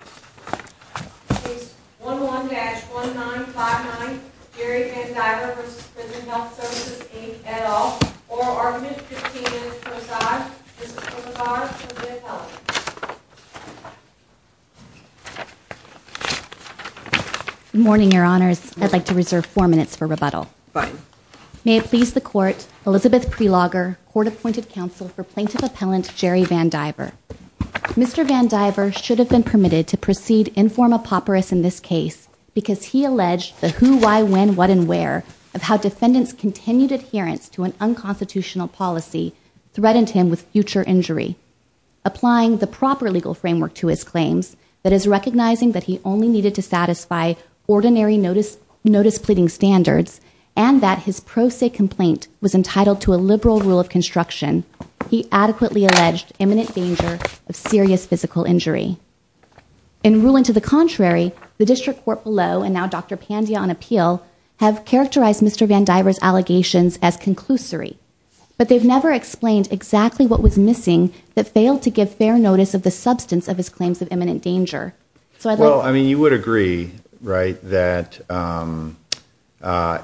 Case 11-1959, Jerry VanDiver v. Prison Health Services Inc, et al. Oral argument, 15 minutes per side. Mr. Plaintiff Appellant. Good morning, Your Honors. I'd like to reserve 4 minutes for rebuttal. Fine. May it please the Court, Elizabeth Prelogger, Court-Appointed Counsel for Plaintiff Appellant Jerry VanDiver. Mr. VanDiver should have been permitted to proceed informopoperous in this case because he alleged the who, why, when, what, and where of how defendants' continued adherence to an unconstitutional policy threatened him with future injury. Applying the proper legal framework to his claims, that is recognizing that he only needed to satisfy ordinary notice pleading standards and that his pro se complaint was entitled to a liberal rule of construction, he adequately alleged imminent danger of serious physical injury. In ruling to the contrary, the District Court below, and now Dr. Pandya on appeal, have characterized Mr. VanDiver's allegations as conclusory, but they've never explained exactly what was missing that failed to give fair notice of the substance of his claims of imminent danger. Well, I mean, you would agree, right, that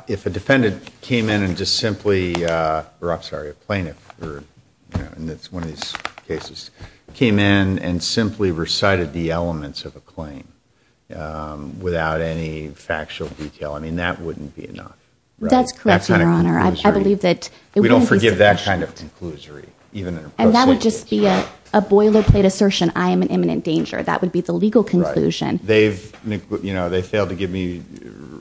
if a defendant came in and just simply, or I'm sorry, a plaintiff in one of these cases, came in and simply recited the elements of a claim without any factual detail, I mean, that wouldn't be enough, right? That's correct, Your Honor. I believe that it wouldn't be sufficient. We don't forgive that kind of conclusory, even in a pro se case. And that would just be a boilerplate assertion, I am in imminent danger. That would be the legal conclusion. Right. You know, they failed to give me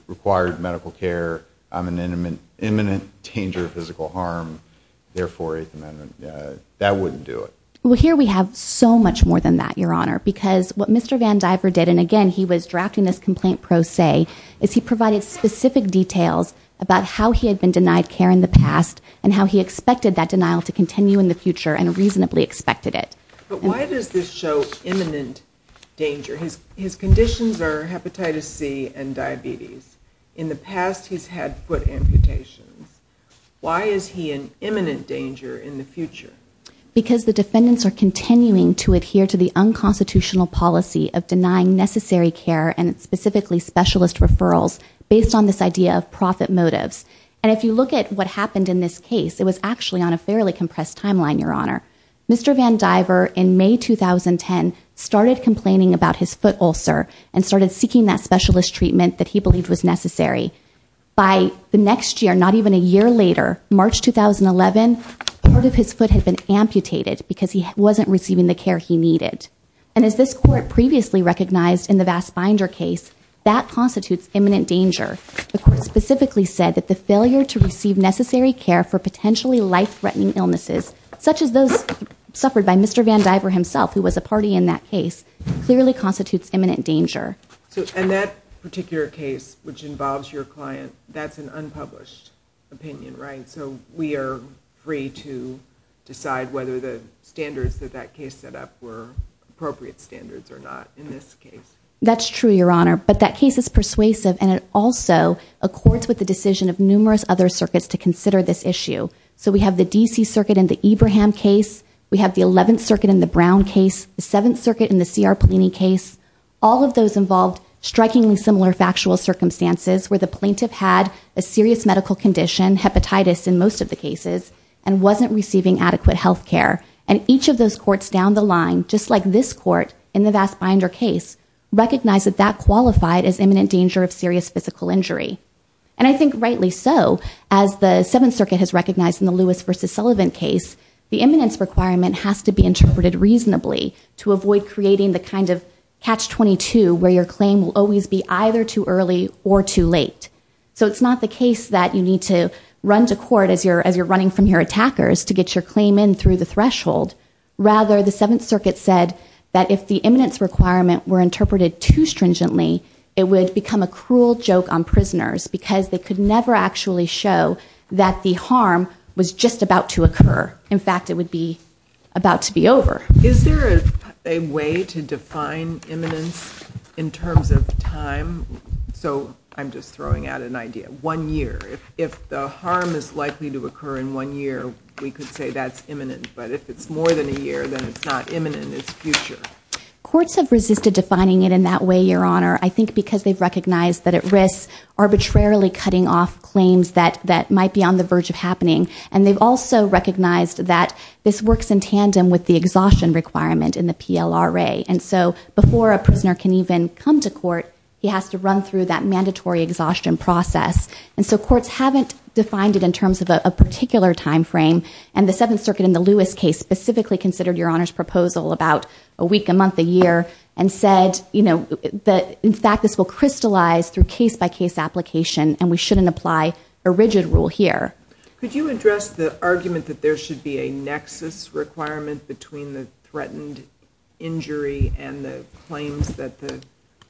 required medical care. I'm in imminent danger of physical harm. Therefore, Eighth Amendment, that wouldn't do it. Well, here we have so much more than that, Your Honor, because what Mr. VanDiver did, and again, he was drafting this complaint pro se, is he provided specific details about how he had been denied care in the past and how he expected that denial to continue in the future and reasonably expected it. But why does this show imminent danger? His conditions are hepatitis C and diabetes. In the past, he's had foot amputations. Why is he in imminent danger in the future? Because the defendants are continuing to adhere to the unconstitutional policy of denying necessary care and specifically specialist referrals based on this idea of profit motives. And if you look at what happened in this case, it was actually on a fairly compressed timeline, Your Honor. Mr. VanDiver, in May 2010, started complaining about his foot ulcer and started seeking that specialist treatment that he believed was necessary. By the next year, not even a year later, March 2011, part of his foot had been amputated because he wasn't receiving the care he needed. And as this court previously recognized in the Vass Binder case, that constitutes imminent danger. The court specifically said that the failure to receive necessary care for potentially life-threatening illnesses, such as those suffered by Mr. VanDiver himself, who was a party in that case, clearly constitutes imminent danger. So in that particular case, which involves your client, that's an unpublished opinion, right? So we are free to decide whether the standards that that case set up were appropriate standards or not in this case. That's true, Your Honor. But that case is persuasive, and it also accords with the decision of numerous other circuits to consider this issue. So we have the D.C. Circuit in the Ebraham case. We have the 11th Circuit in the Brown case. The 7th Circuit in the C.R. Polini case. All of those involved strikingly similar factual circumstances where the plaintiff had a serious medical condition, hepatitis in most of the cases, and wasn't receiving adequate health care. And each of those courts down the line, just like this court in the Vass Binder case, recognized that that qualified as imminent danger of serious physical injury. And I think rightly so, as the 7th Circuit has recognized in the Lewis v. Sullivan case, the imminence requirement has to be interpreted reasonably to avoid creating the kind of catch-22 where your claim will always be either too early or too late. So it's not the case that you need to run to court as you're running from your attackers to get your claim in through the threshold. Rather, the 7th Circuit said that if the imminence requirement were interpreted too stringently, it would become a cruel joke on prisoners because they could never actually show that the harm was just about to occur. In fact, it would be about to be over. Is there a way to define imminence in terms of time? So I'm just throwing out an idea. One year. If the harm is likely to occur in one year, we could say that's imminent. But if it's more than a year, then it's not imminent. It's future. Courts have resisted defining it in that way, Your Honor, I think because they've recognized that it risks arbitrarily cutting off claims that might be on the verge of happening. And they've also recognized that this works in tandem with the exhaustion requirement in the PLRA. And so before a prisoner can even come to court, he has to run through that mandatory exhaustion process. And so courts haven't defined it in terms of a particular time frame. And the 7th Circuit in the Lewis case specifically considered Your Honor's proposal about a week, a month, a year, and said, you know, in fact, this will crystallize through case-by-case application and we shouldn't apply a rigid rule here. Could you address the argument that there should be a nexus requirement between the threatened injury and the claims that the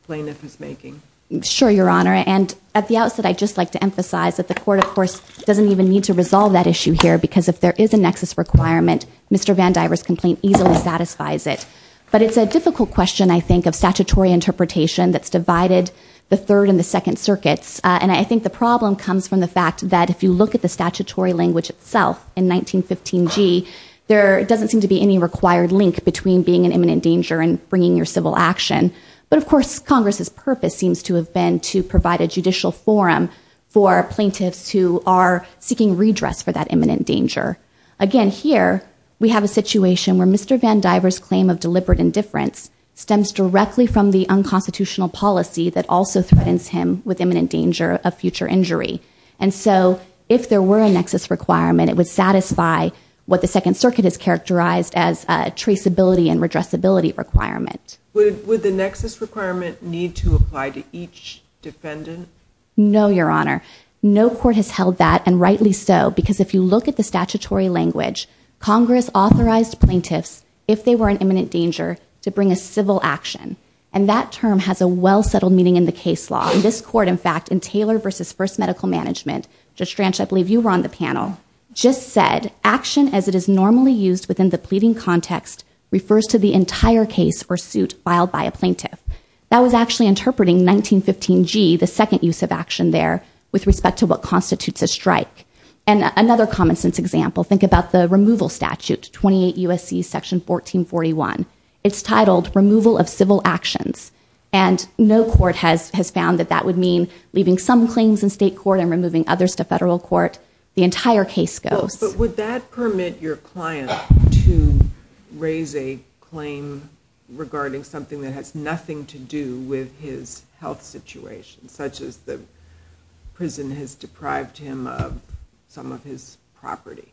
plaintiff is making? Sure, Your Honor. And at the outset, I'd just like to emphasize that the court, of course, doesn't even need to resolve that issue here because if there is a nexus requirement, Mr. Van Dyver's complaint easily satisfies it. But it's a difficult question, I think, of statutory interpretation that's divided the Third and the Second Circuits. And I think the problem comes from the fact that if you look at the statutory language itself in 1915G, there doesn't seem to be any required link between being in imminent danger and bringing your civil action. But, of course, Congress's purpose seems to have been to provide a judicial forum for plaintiffs who are seeking redress for that imminent danger. Again, here, we have a situation where Mr. Van Dyver's claim of deliberate indifference stems directly from the unconstitutional policy that also threatens him with imminent danger of future injury. And so if there were a nexus requirement, it would satisfy what the Second Circuit has characterized as a traceability and redressability requirement. Would the nexus requirement need to apply to each defendant? No, Your Honor. No court has held that, and rightly so, because if you look at the statutory language, Congress authorized plaintiffs, if they were in imminent danger, to bring a civil action. And that term has a well-settled meaning in the case law. This court, in fact, in Taylor v. First Medical Management, Judge Stranch, I believe you were on the panel, just said, action as it is normally used within the pleading context refers to the entire case or suit filed by a plaintiff. That was actually interpreting 1915G, the second use of action there, with respect to what constitutes a strike. And another common-sense example, think about the removal statute, 28 U.S.C. Section 1441. It's titled Removal of Civil Actions. And no court has found that that would mean leaving some claims in state court and removing others to federal court. The entire case goes. But would that permit your client to raise a claim regarding something that has nothing to do with his health situation, such as the prison has deprived him of some of his property?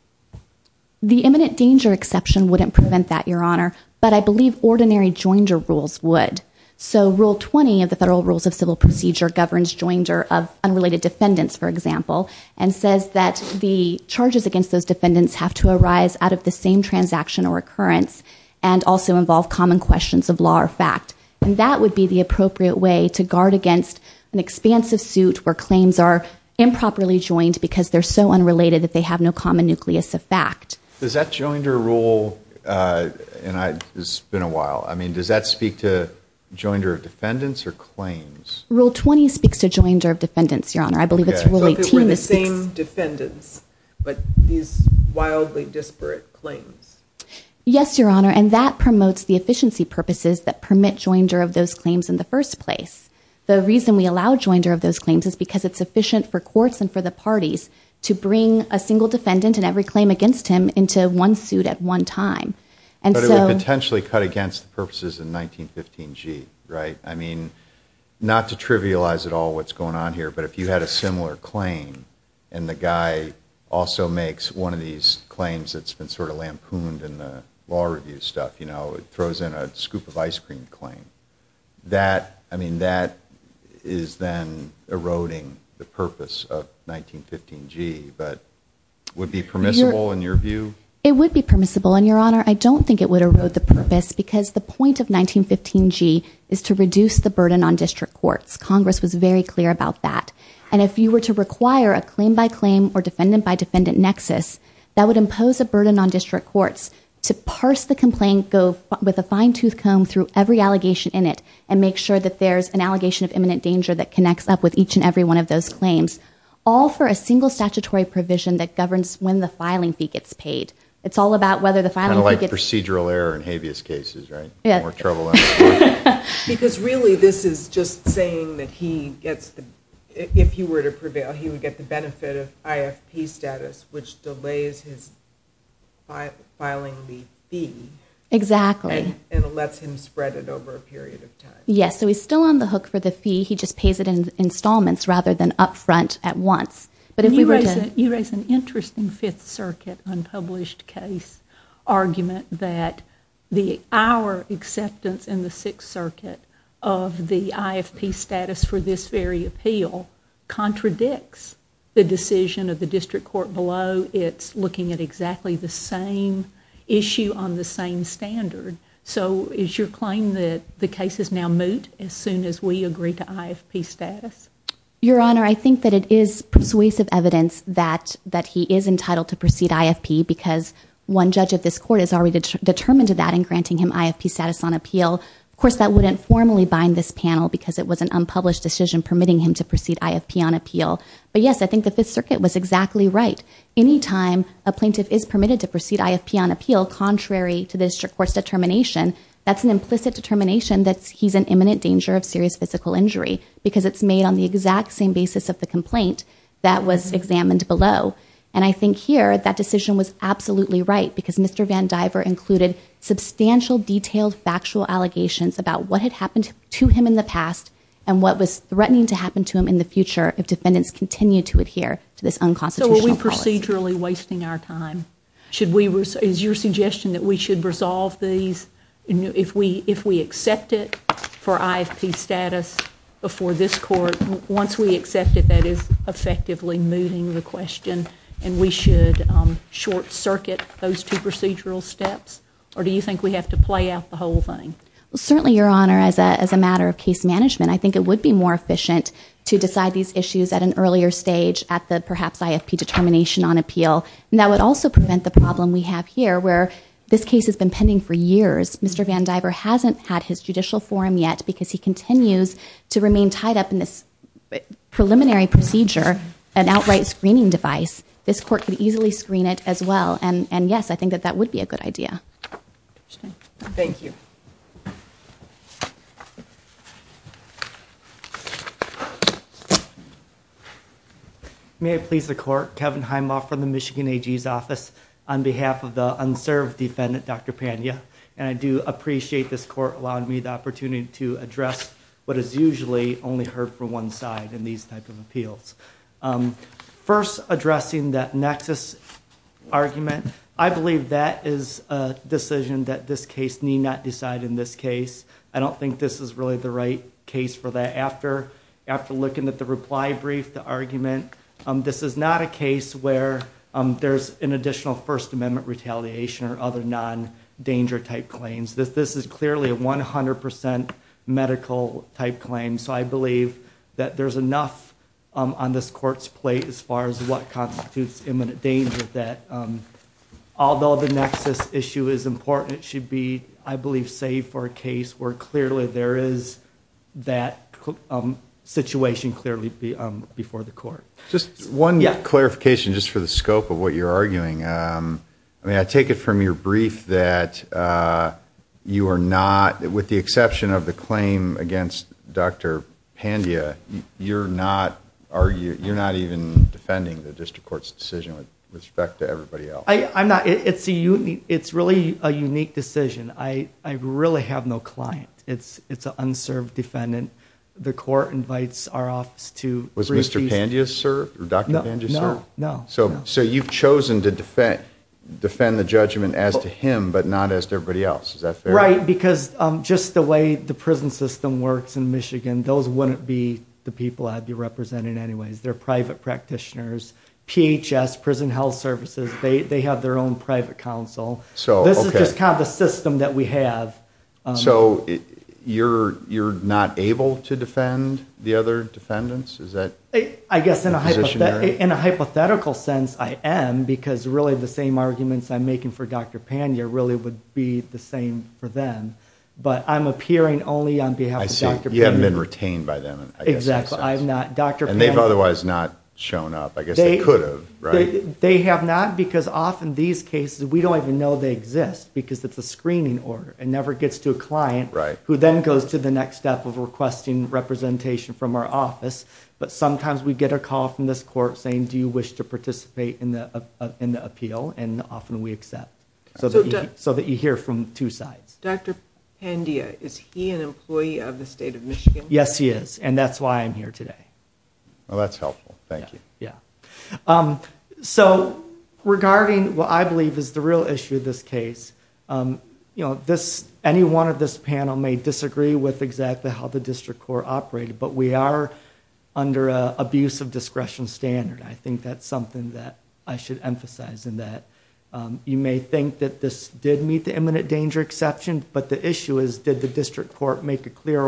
The imminent danger exception wouldn't prevent that, Your Honor. But I believe ordinary joinder rules would. So Rule 20 of the Federal Rules of Civil Procedure governs joinder of unrelated defendants, for example, and says that the charges against those defendants have to arise out of the same transaction or occurrence and also involve common questions of law or fact. And that would be the appropriate way to guard against an expansive suit where claims are improperly joined because they're so unrelated that they have no common nucleus of fact. Does that joinder rule, and it's been a while, I mean, does that speak to joinder of defendants or claims? Rule 20 speaks to joinder of defendants, Your Honor. I believe it's Rule 18. So if it were the same defendants, but these wildly disparate claims. Yes, Your Honor, and that promotes the efficiency purposes that permit joinder of those claims in the first place. The reason we allow joinder of those claims is because it's efficient for courts and for the parties to bring a single defendant and every claim against him into one suit at one time. But it would potentially cut against the purposes in 1915G, right? I mean, not to trivialize at all what's going on here, but if you had a similar claim and the guy also makes one of these claims that's been sort of lampooned in the law review stuff, you know, throws in a scoop of ice cream claim, I mean, that is then eroding the purpose of 1915G, but would be permissible in your view? It would be permissible, and, Your Honor, I don't think it would erode the purpose because the point of 1915G is to reduce the burden on district courts. Congress was very clear about that. And if you were to require a claim-by-claim or defendant-by-defendant nexus, that would impose a burden on district courts to parse the complaint, go with a fine-tooth comb through every allegation in it, and make sure that there's an allegation of imminent danger that connects up with each and every one of those claims, all for a single statutory provision that governs when the filing fee gets paid. It's all about whether the filing fee gets paid. Kind of like procedural error in habeas cases, right? More trouble. Because really this is just saying that he gets the... If he were to prevail, he would get the benefit of IFP status, which delays his filing fee. Exactly. And lets him spread it over a period of time. Yes, so he's still on the hook for the fee. He just pays it in installments rather than up front at once. But if we were to... You raise an interesting Fifth Circuit unpublished case argument that our acceptance in the Sixth Circuit of the IFP status for this very appeal contradicts the decision of the district court below. So it's looking at exactly the same issue on the same standard. So is your claim that the cases now moot as soon as we agree to IFP status? Your Honor, I think that it is persuasive evidence that he is entitled to proceed IFP because one judge of this court is already determined to that in granting him IFP status on appeal. Of course, that wouldn't formally bind this panel because it was an unpublished decision permitting him to proceed IFP on appeal. But yes, I think the Fifth Circuit was exactly right. Anytime a plaintiff is permitted to proceed IFP on appeal contrary to the district court's determination, that's an implicit determination that he's in imminent danger of serious physical injury because it's made on the exact same basis of the complaint that was examined below. And I think here that decision was absolutely right because Mr. Van Diver included substantial detailed factual allegations about what had happened to him in the past if defendants continue to adhere to this unconstitutional clause. So are we procedurally wasting our time? Is your suggestion that we should resolve these if we accept it for IFP status before this court? Once we accept it, that is effectively moving the question and we should short-circuit those two procedural steps? Or do you think we have to play out the whole thing? Certainly, Your Honor, as a matter of case management, I think it would be more efficient to decide these issues at an earlier stage at the perhaps IFP determination on appeal. And that would also prevent the problem we have here where this case has been pending for years. Mr. Van Diver hasn't had his judicial forum yet because he continues to remain tied up in this preliminary procedure, an outright screening device. This court could easily screen it as well. And yes, I think that that would be a good idea. Thank you. May I please the court? Kevin Heimoff from the Michigan AG's office on behalf of the unserved defendant, Dr. Pania. And I do appreciate this court allowing me the opportunity to address what is usually only heard from one side in these type of appeals. First, addressing that nexus argument, I believe that is a decision that this case need not decide in this case. I don't think this is really the right case for that. After looking at the reply brief, the argument, this is not a case where there's an additional First Amendment retaliation or other non-danger type claims. This is clearly a 100% medical type claim. So I believe that there's enough on this court's plate as far as what constitutes imminent danger that although the nexus issue is important, it should be, I believe, safe for a case where clearly there is that situation clearly before the court. Just one clarification just for the scope of what you're arguing. I mean, I take it from your brief that you are not, with the exception of the claim against Dr. Pania, you're not even defending the district court's decision with respect to everybody else. It's really a unique decision. I really have no client. It's an unserved defendant. The court invites our office to brief these people. Was Mr. Pania served or Dr. Pania served? No, no. So you've chosen to defend the judgment as to him but not as to everybody else. Is that fair? Right, because just the way the prison system works in Michigan, those wouldn't be the people I'd be representing anyways. They're private practitioners. PHS, Prison Health Services, they have their own private counsel. This is just kind of the system that we have. So you're not able to defend the other defendants? I guess in a hypothetical sense I am because really the same arguments I'm making for Dr. Pania really would be the same for them. But I'm appearing only on behalf of Dr. Pania. I see, you haven't been retained by them. Exactly. And they've otherwise not shown up. I guess they could have, right? They have not because often these cases, we don't even know they exist because it's a screening order. It never gets to a client who then goes to the next step of requesting representation from our office. But sometimes we get a call from this court saying, do you wish to participate in the appeal? And often we accept so that you hear from two sides. Dr. Pania, is he an employee of the State of Michigan? Yes, he is. And that's why I'm here today. Well, that's helpful. Thank you. So regarding what I believe is the real issue of this case, any one of this panel may disagree with exactly how the district court operated. But we are under an abuse of discretion standard. I think that's something that I should emphasize in that. You may think that this did meet the imminent danger exception. But the issue is, did the district court make a clear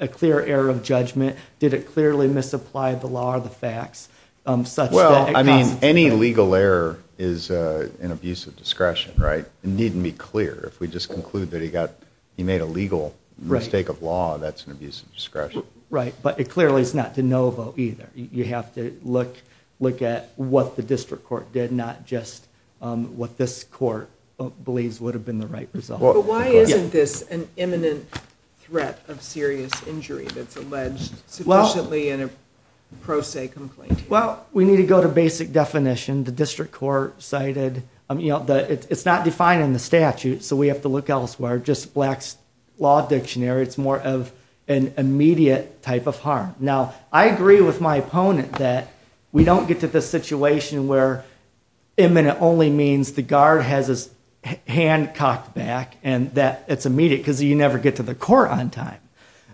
error of judgment? Did it clearly misapply the law or the facts? Well, I mean, any legal error is an abuse of discretion, right? It needn't be clear. If we just conclude that he made a legal mistake of law, that's an abuse of discretion. Right. But it clearly is not de novo either. You have to look at what the district court did, not just what this court believes would have been the right result. But why isn't this an imminent threat of serious injury that's alleged sufficiently in a pro se complaint? Well, we need to go to basic definition. The district court cited, it's not defined in the statute, so we have to look elsewhere. Just Black's Law Dictionary, it's more of an immediate type of harm. Now, I agree with my opponent that we don't get to the situation where imminent only means the guard has his hand cocked back and that it's immediate because you never get to the court on time.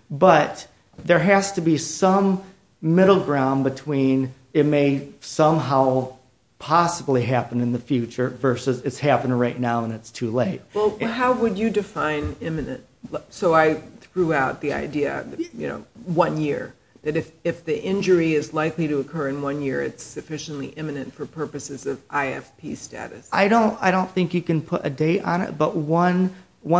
But there has to be some middle ground between it may somehow possibly happen in the future versus it's happening right now and it's too late. Well, how would you define imminent? So I threw out the idea of one year, that if the injury is likely to occur in one year, it's sufficiently imminent for purposes of IFP status. I don't think you can put a date on it, but one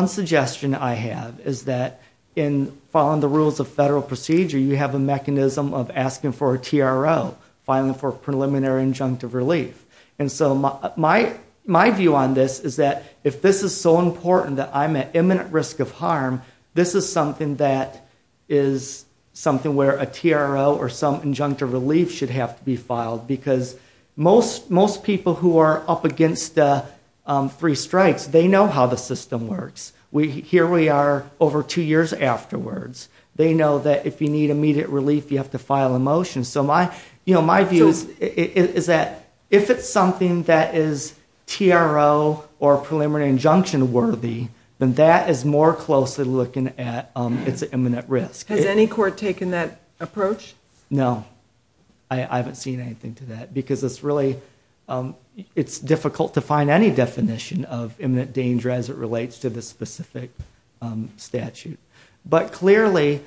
suggestion I have is that in following the rules of federal procedure, you have a mechanism of asking for a TRO, filing for preliminary injunctive relief. And so my view on this is that if this is so important that I'm at imminent risk of harm, this is something that is something where a TRO or some injunctive relief should have to be filed because most people who are up against three strikes, they know how the system works. Here we are over two years afterwards. They know that if you need immediate relief, you have to file a motion. So my view is that if it's something that is TRO or preliminary injunction worthy, then that is more closely looking at its imminent risk. Has any court taken that approach? No. I haven't seen anything to that because it's really difficult to find any definition of imminent danger as it relates to this specific statute. But clearly,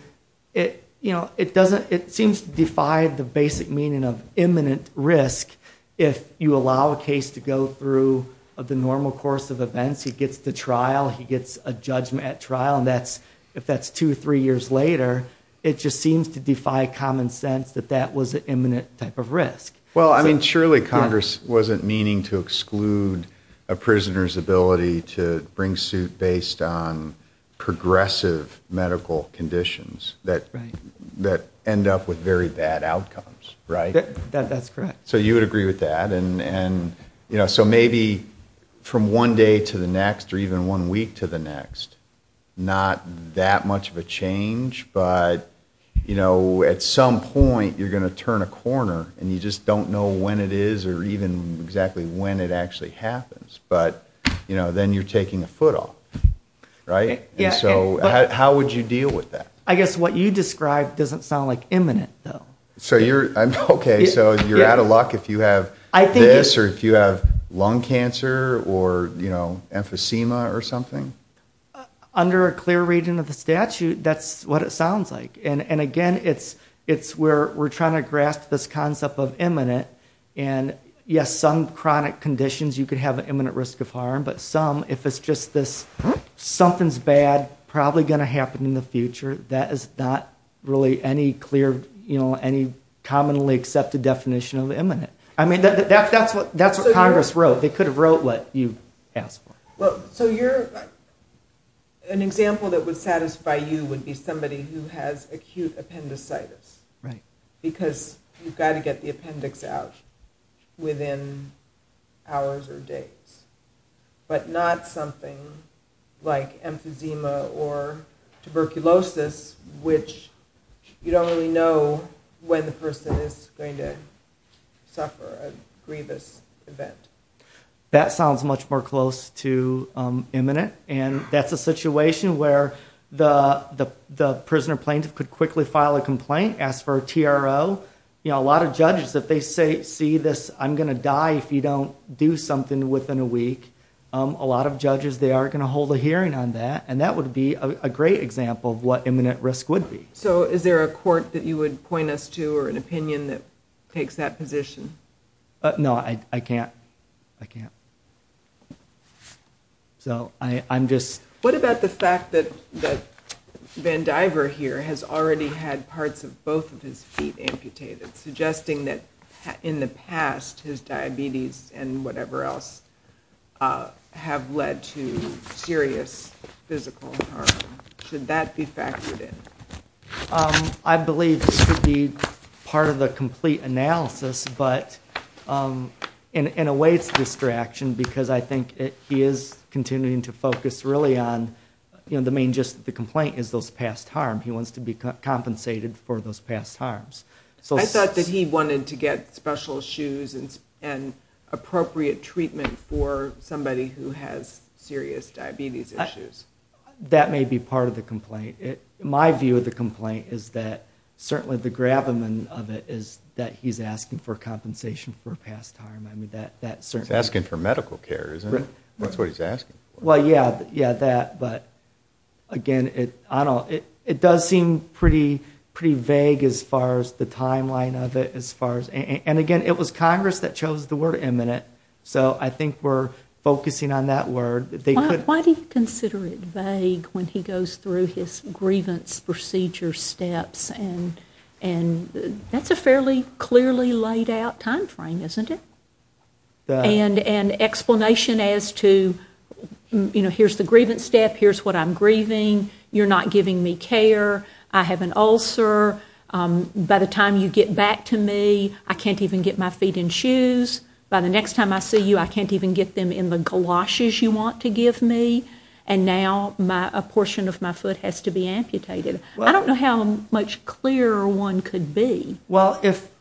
it seems to defy the basic meaning of imminent risk if you allow a case to go through the normal course of events. He gets to trial, he gets a judgment at trial, and if that's two or three years later, it just seems to defy common sense that that was an imminent type of risk. Well, I mean, surely Congress wasn't meaning to exclude a prisoner's ability to bring suit based on progressive medical conditions that end up with very bad outcomes, right? That's correct. So you would agree with that? And, you know, so maybe from one day to the next or even one week to the next, not that much of a change, but, you know, at some point, you're going to turn a corner and you just don't know when it is or even exactly when it actually happens. But, you know, then you're taking a foot off, right? And so how would you deal with that? I guess what you describe doesn't sound like imminent, though. So you're out of luck if you have this or if you have lung cancer or emphysema or something? Under a clear reading of the statute, that's what it sounds like. And, again, it's where we're trying to grasp this concept of imminent. And, yes, some chronic conditions, you could have an imminent risk of harm, but some, if it's just this something's bad, probably going to happen in the future, that is not really any clear, you know, any commonly accepted definition of imminent. I mean, that's what Congress wrote. They could have wrote what you asked for. Well, so an example that would satisfy you would be somebody who has acute appendicitis, because you've got to get the appendix out within hours or days, but not something like emphysema or tuberculosis, which you don't really know when the person is going to suffer a grievous event. That sounds much more close to imminent, and that's a situation where the prisoner plaintiff could quickly file a complaint, ask for a TRO. You know, a lot of judges, if they see this, I'm going to die if you don't do something within a week, a lot of judges, they are going to hold a hearing on that, and that would be a great example of what imminent risk would be. So is there a court that you would point us to or an opinion that takes that position? No, I can't. I can't. So I'm just... What about the fact that Van Diver here has already had parts of both of his feet amputated, suggesting that in the past, his diabetes and whatever else have led to serious physical harm? Should that be factored in? I believe this should be part of the complete analysis, but in a way it's a distraction because I think he is continuing to focus really on, you know, the main gist of the complaint is those past harm. He wants to be compensated for those past harms. I thought that he wanted to get special shoes and appropriate treatment for somebody who has serious diabetes issues. That may be part of the complaint. My view of the complaint is that certainly the gravamen of it is that he's asking for compensation for past harm. He's asking for medical care, isn't he? That's what he's asking for. Again, it does seem pretty vague as far as the timeline of it. And again, it was Congress that chose the word imminent. So I think we're focusing on that word. Why do you consider it vague when he goes through his grievance procedure steps? That's a fairly clearly laid out time frame, isn't it? And an explanation as to, you know, here's the grievance step, here's what I'm grieving. You're not giving me care. I have an ulcer. By the time you get back to me, I can't even get my feet in shoes. By the next time I see you, I can't even get them in the galoshes you want to give me. And now a portion of my foot has to be amputated. I don't know how much clearer one could be. Well, if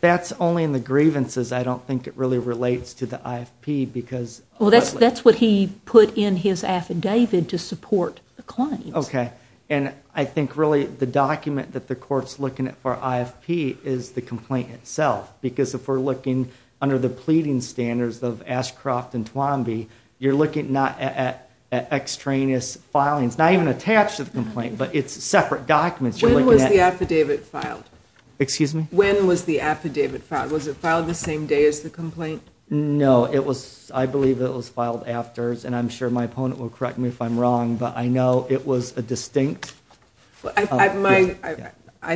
that's only in the grievances, I don't think it really relates to the IFP because... Well, that's what he put in his affidavit to support the claims. Okay, and I think really the document that the Court's looking at for IFP is the complaint itself because if we're looking under the pleading standards of Ashcroft and Twomby, you're looking not at extraneous filings, not even attached to the complaint, but it's separate documents. When was the affidavit filed? Excuse me? When was the affidavit filed? Was it filed the same day as the complaint? No, I believe it was filed after, and I'm sure my opponent will correct me if I'm wrong, but I know it was a distinct... I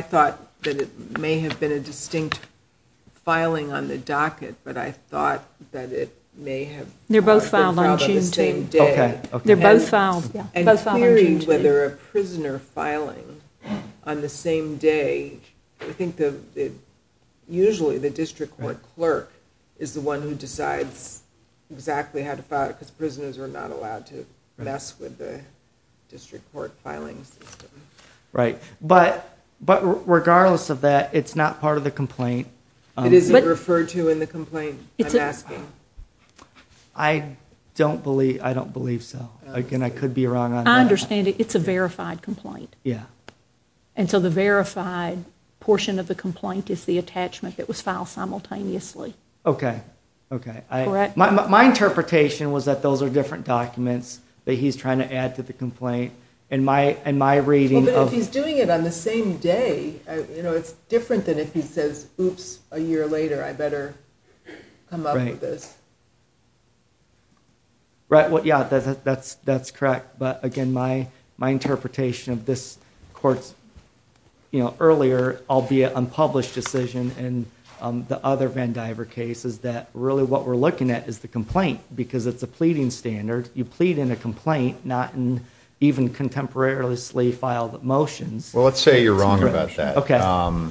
thought that it may have been a distinct filing on the docket, but I thought that it may have... They're both filed on June 2. Okay. They're both filed on June 2. I don't believe whether a prisoner filing on the same day... I think usually the district court clerk is the one who decides exactly how to file it because prisoners are not allowed to mess with the district court filing system. Right, but regardless of that, it's not part of the complaint. It isn't referred to in the complaint, I'm asking. I don't believe so. Again, I could be wrong on that. I understand it's a verified complaint. Yeah. And so the verified portion of the complaint is the attachment that was filed simultaneously. Okay, okay. My interpretation was that those are different documents that he's trying to add to the complaint, and my reading of... But if he's doing it on the same day, it's different than if he says, oops, a year later, I better come up with this. Right, yeah, that's correct. But again, my interpretation of this court's... You know, earlier, albeit unpublished decision in the other Van Diver cases, that really what we're looking at is the complaint because it's a pleading standard. You plead in a complaint, not in even contemporarily filed motions. Well, let's say you're wrong about that. Okay.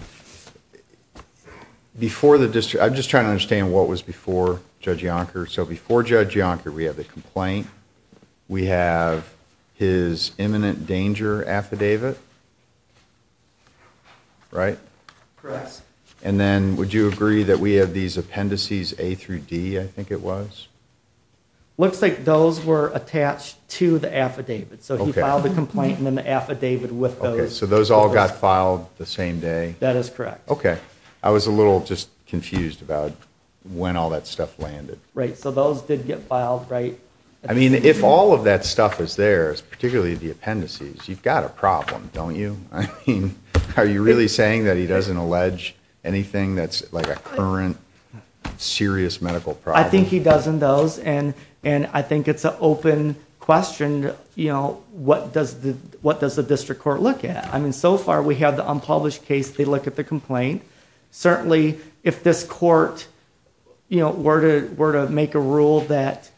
Before the district... I'm just trying to understand what was before Judge Yonker. So before Judge Yonker, we have the complaint, we have his imminent danger affidavit, right? Correct. And then would you agree that we have these appendices, A through D, I think it was? Looks like those were attached to the affidavit. So he filed the complaint and then the affidavit with those. Okay, so those all got filed the same day? That is correct. Okay. I was a little just confused about when all that stuff landed. Right, so those did get filed, right? I mean, if all of that stuff is there, particularly the appendices, you've got a problem, don't you? I mean, are you really saying that he doesn't allege anything that's like a current serious medical problem? I think he does in those, and I think it's an open question, you know, what does the district court look at? I mean, so far we have the unpublished case, they look at the complaint. Certainly, if this court, you know, were to make a rule that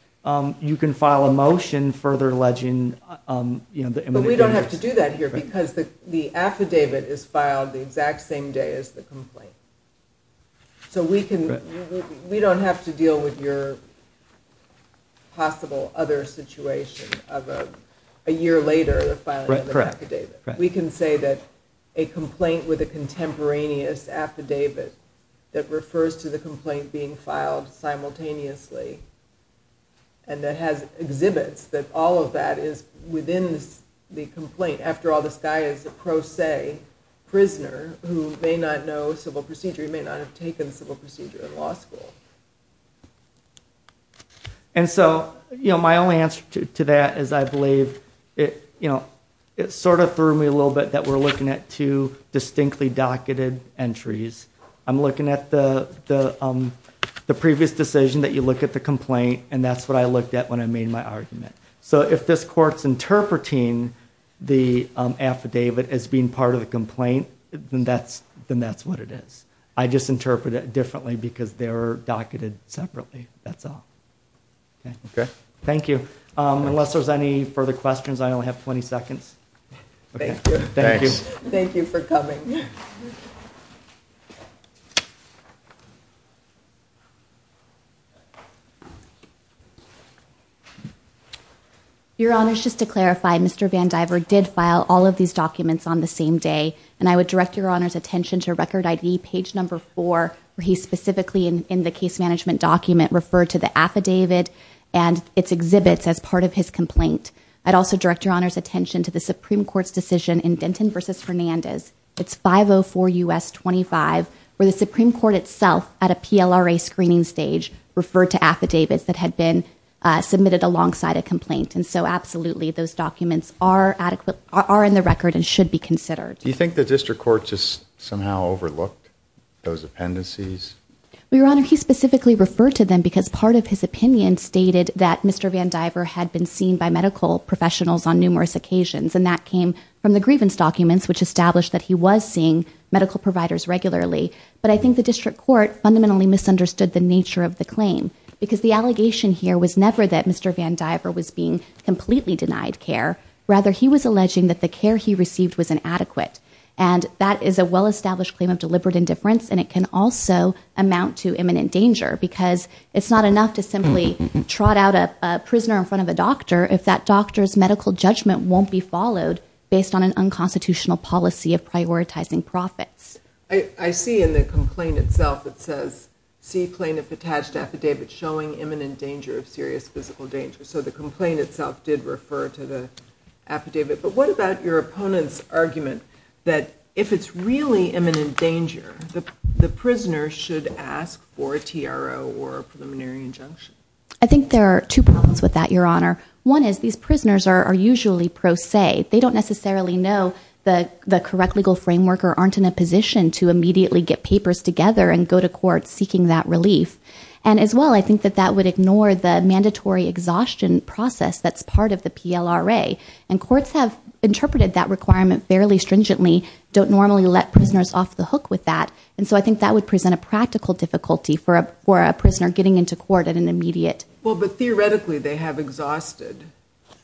you can file a motion further alleging, you know, the immunogenicity. But we don't have to do that here because the affidavit is filed the exact same day as the complaint. So we don't have to deal with your possible other situation of a year later filing the affidavit. Correct. We can say that a complaint with a contemporaneous affidavit that refers to the complaint being filed simultaneously and that has exhibits that all of that is within the complaint. After all, this guy is a pro se prisoner who may not know civil procedure, he may not have taken civil procedure in law school. And so, you know, my only answer to that is I believe, you know, it sort of threw me a little bit that we're looking at two distinctly docketed entries. I'm looking at the previous decision that you look at the complaint, and that's what I looked at when I made my argument. So if this court's interpreting the affidavit as being part of the complaint, then that's what it is. I just interpret it differently because they're docketed separately. That's all. Okay. Okay. Thank you. Unless there's any further questions, I only have 20 seconds. Thank you. Thanks. Thank you for coming. Your Honor, just to clarify, Mr. Van Diver did file all of these documents on the same day, and I would direct your Honor's attention to record ID page number four, where he specifically in the case part of his complaint. I'd also direct your Honor's attention to the Supreme Court's decision in Denton v. Fernandez. It's 504 U.S. 25, where the Supreme Court itself, at a PLRA screening stage, referred to affidavits that had been submitted alongside a complaint. And so, absolutely, those documents are in the record and should be considered. Do you think the District Court just somehow overlooked those appendices? Well, Your Honor, he specifically referred to them because part of his claim had been seen by medical professionals on numerous occasions, and that came from the grievance documents, which established that he was seeing medical providers regularly. But I think the District Court fundamentally misunderstood the nature of the claim, because the allegation here was never that Mr. Van Diver was being completely denied care. Rather, he was alleging that the care he received was inadequate. And that is a well-established claim of deliberate indifference, and it can also amount to imminent danger, because it's not enough to simply trot out a prisoner in front of a doctor if that doctor's medical judgment won't be followed based on an unconstitutional policy of prioritizing profits. I see in the complaint itself, it says, see plaintiff attached to affidavit showing imminent danger of serious physical danger. So the complaint itself did refer to the affidavit. But what about your opponent's argument that if it's really imminent danger, the prisoner should ask for a TRO or a preliminary injunction? I think there are two problems with that, Your Honor. One is these prisoners are usually pro se. They don't necessarily know the correct legal framework or aren't in a position to immediately get papers together and go to court seeking that relief. And as well, I think that that would ignore the mandatory exhaustion process that's part of the PLRA. And courts have interpreted that requirement fairly stringently, don't normally let prisoners off the hook with that. And so I think that would present a practical difficulty for a prisoner getting into court at an immediate. Well, but theoretically they have exhausted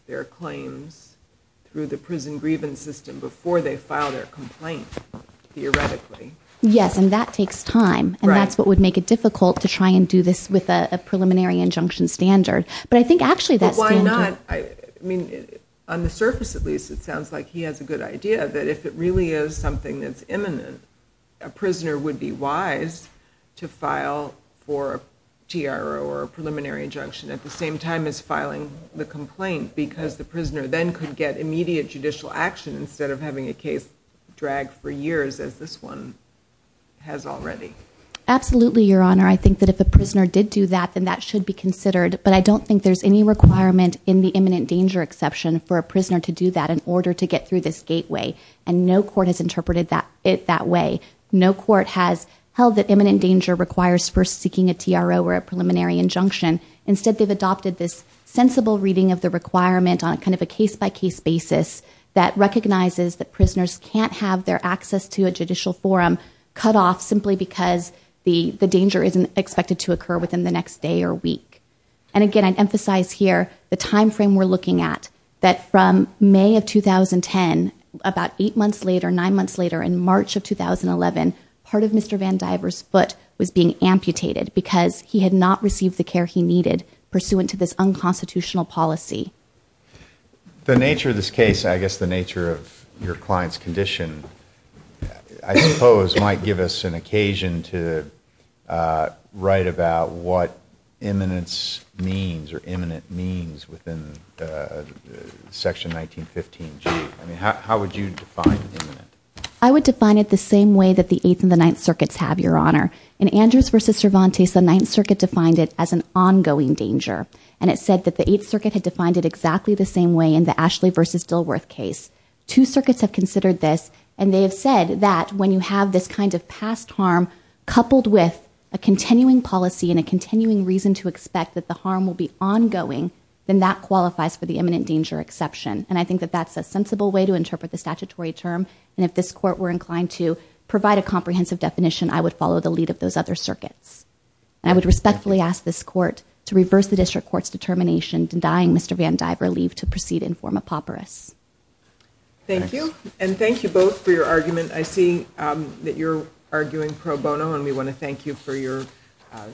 their claims through the prison grievance system before they filed their complaint, theoretically. Yes, and that takes time. And that's what would make it difficult to try and do this with a preliminary injunction standard. But I think actually that's standard. But why not? I mean, on the surface at least, it sounds like he has a good idea that if it really is something that's imminent, a prisoner would be wise to go for a TRO or a preliminary injunction at the same time as filing the complaint because the prisoner then could get immediate judicial action instead of having a case dragged for years as this one has already. Absolutely, Your Honor. I think that if a prisoner did do that, then that should be considered. But I don't think there's any requirement in the imminent danger exception for a prisoner to do that in order to get through this gateway. And no court has interpreted it that way. No court has held that imminent danger requires first seeking a TRO or a preliminary injunction. Instead, they've adopted this sensible reading of the requirement on kind of a case-by-case basis that recognizes that prisoners can't have their access to a judicial forum cut off simply because the danger isn't expected to occur within the next day or week. And, again, I'd emphasize here the timeframe we're looking at, that from May of 2010, about eight months later, nine months later, in March of 2011, part of Mr. Van Diver's foot was being amputated because he had not received the care he needed pursuant to this unconstitutional policy. The nature of this case, I guess the nature of your client's condition, I suppose, might give us an occasion to write about what imminence means or imminent means within Section 1915G. How would you define imminent? I would define it the same way that the Eighth and the Ninth Circuits have, Your Honor. In Andrews v. Cervantes, the Ninth Circuit defined it as an ongoing danger, and it said that the Eighth Circuit had defined it exactly the same way in the Ashley v. Dilworth case. Two circuits have considered this, and they have said that when you have this kind of past harm coupled with a continuing policy and a continuing reason to expect that the harm will be ongoing, then that qualifies for the imminent danger exception. And I think that that's a sensible way to interpret the statutory term, and if this Court were inclined to provide a comprehensive definition, I would follow the lead of those other circuits. And I would respectfully ask this Court to reverse the District Court's determination denying Mr. Van Diver leave to proceed in form of papyrus. Thank you. And thank you both for your argument. I see that you're arguing pro bono, and we want to thank you for your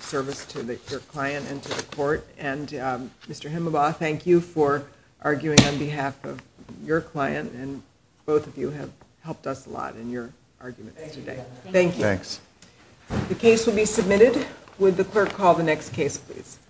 service to your client and to the Court. And, Mr. Himelbaugh, thank you for arguing on behalf of your client, and both of you have helped us a lot in your arguments today. Thank you. Thanks. The case will be submitted. Would the clerk call the next case, please?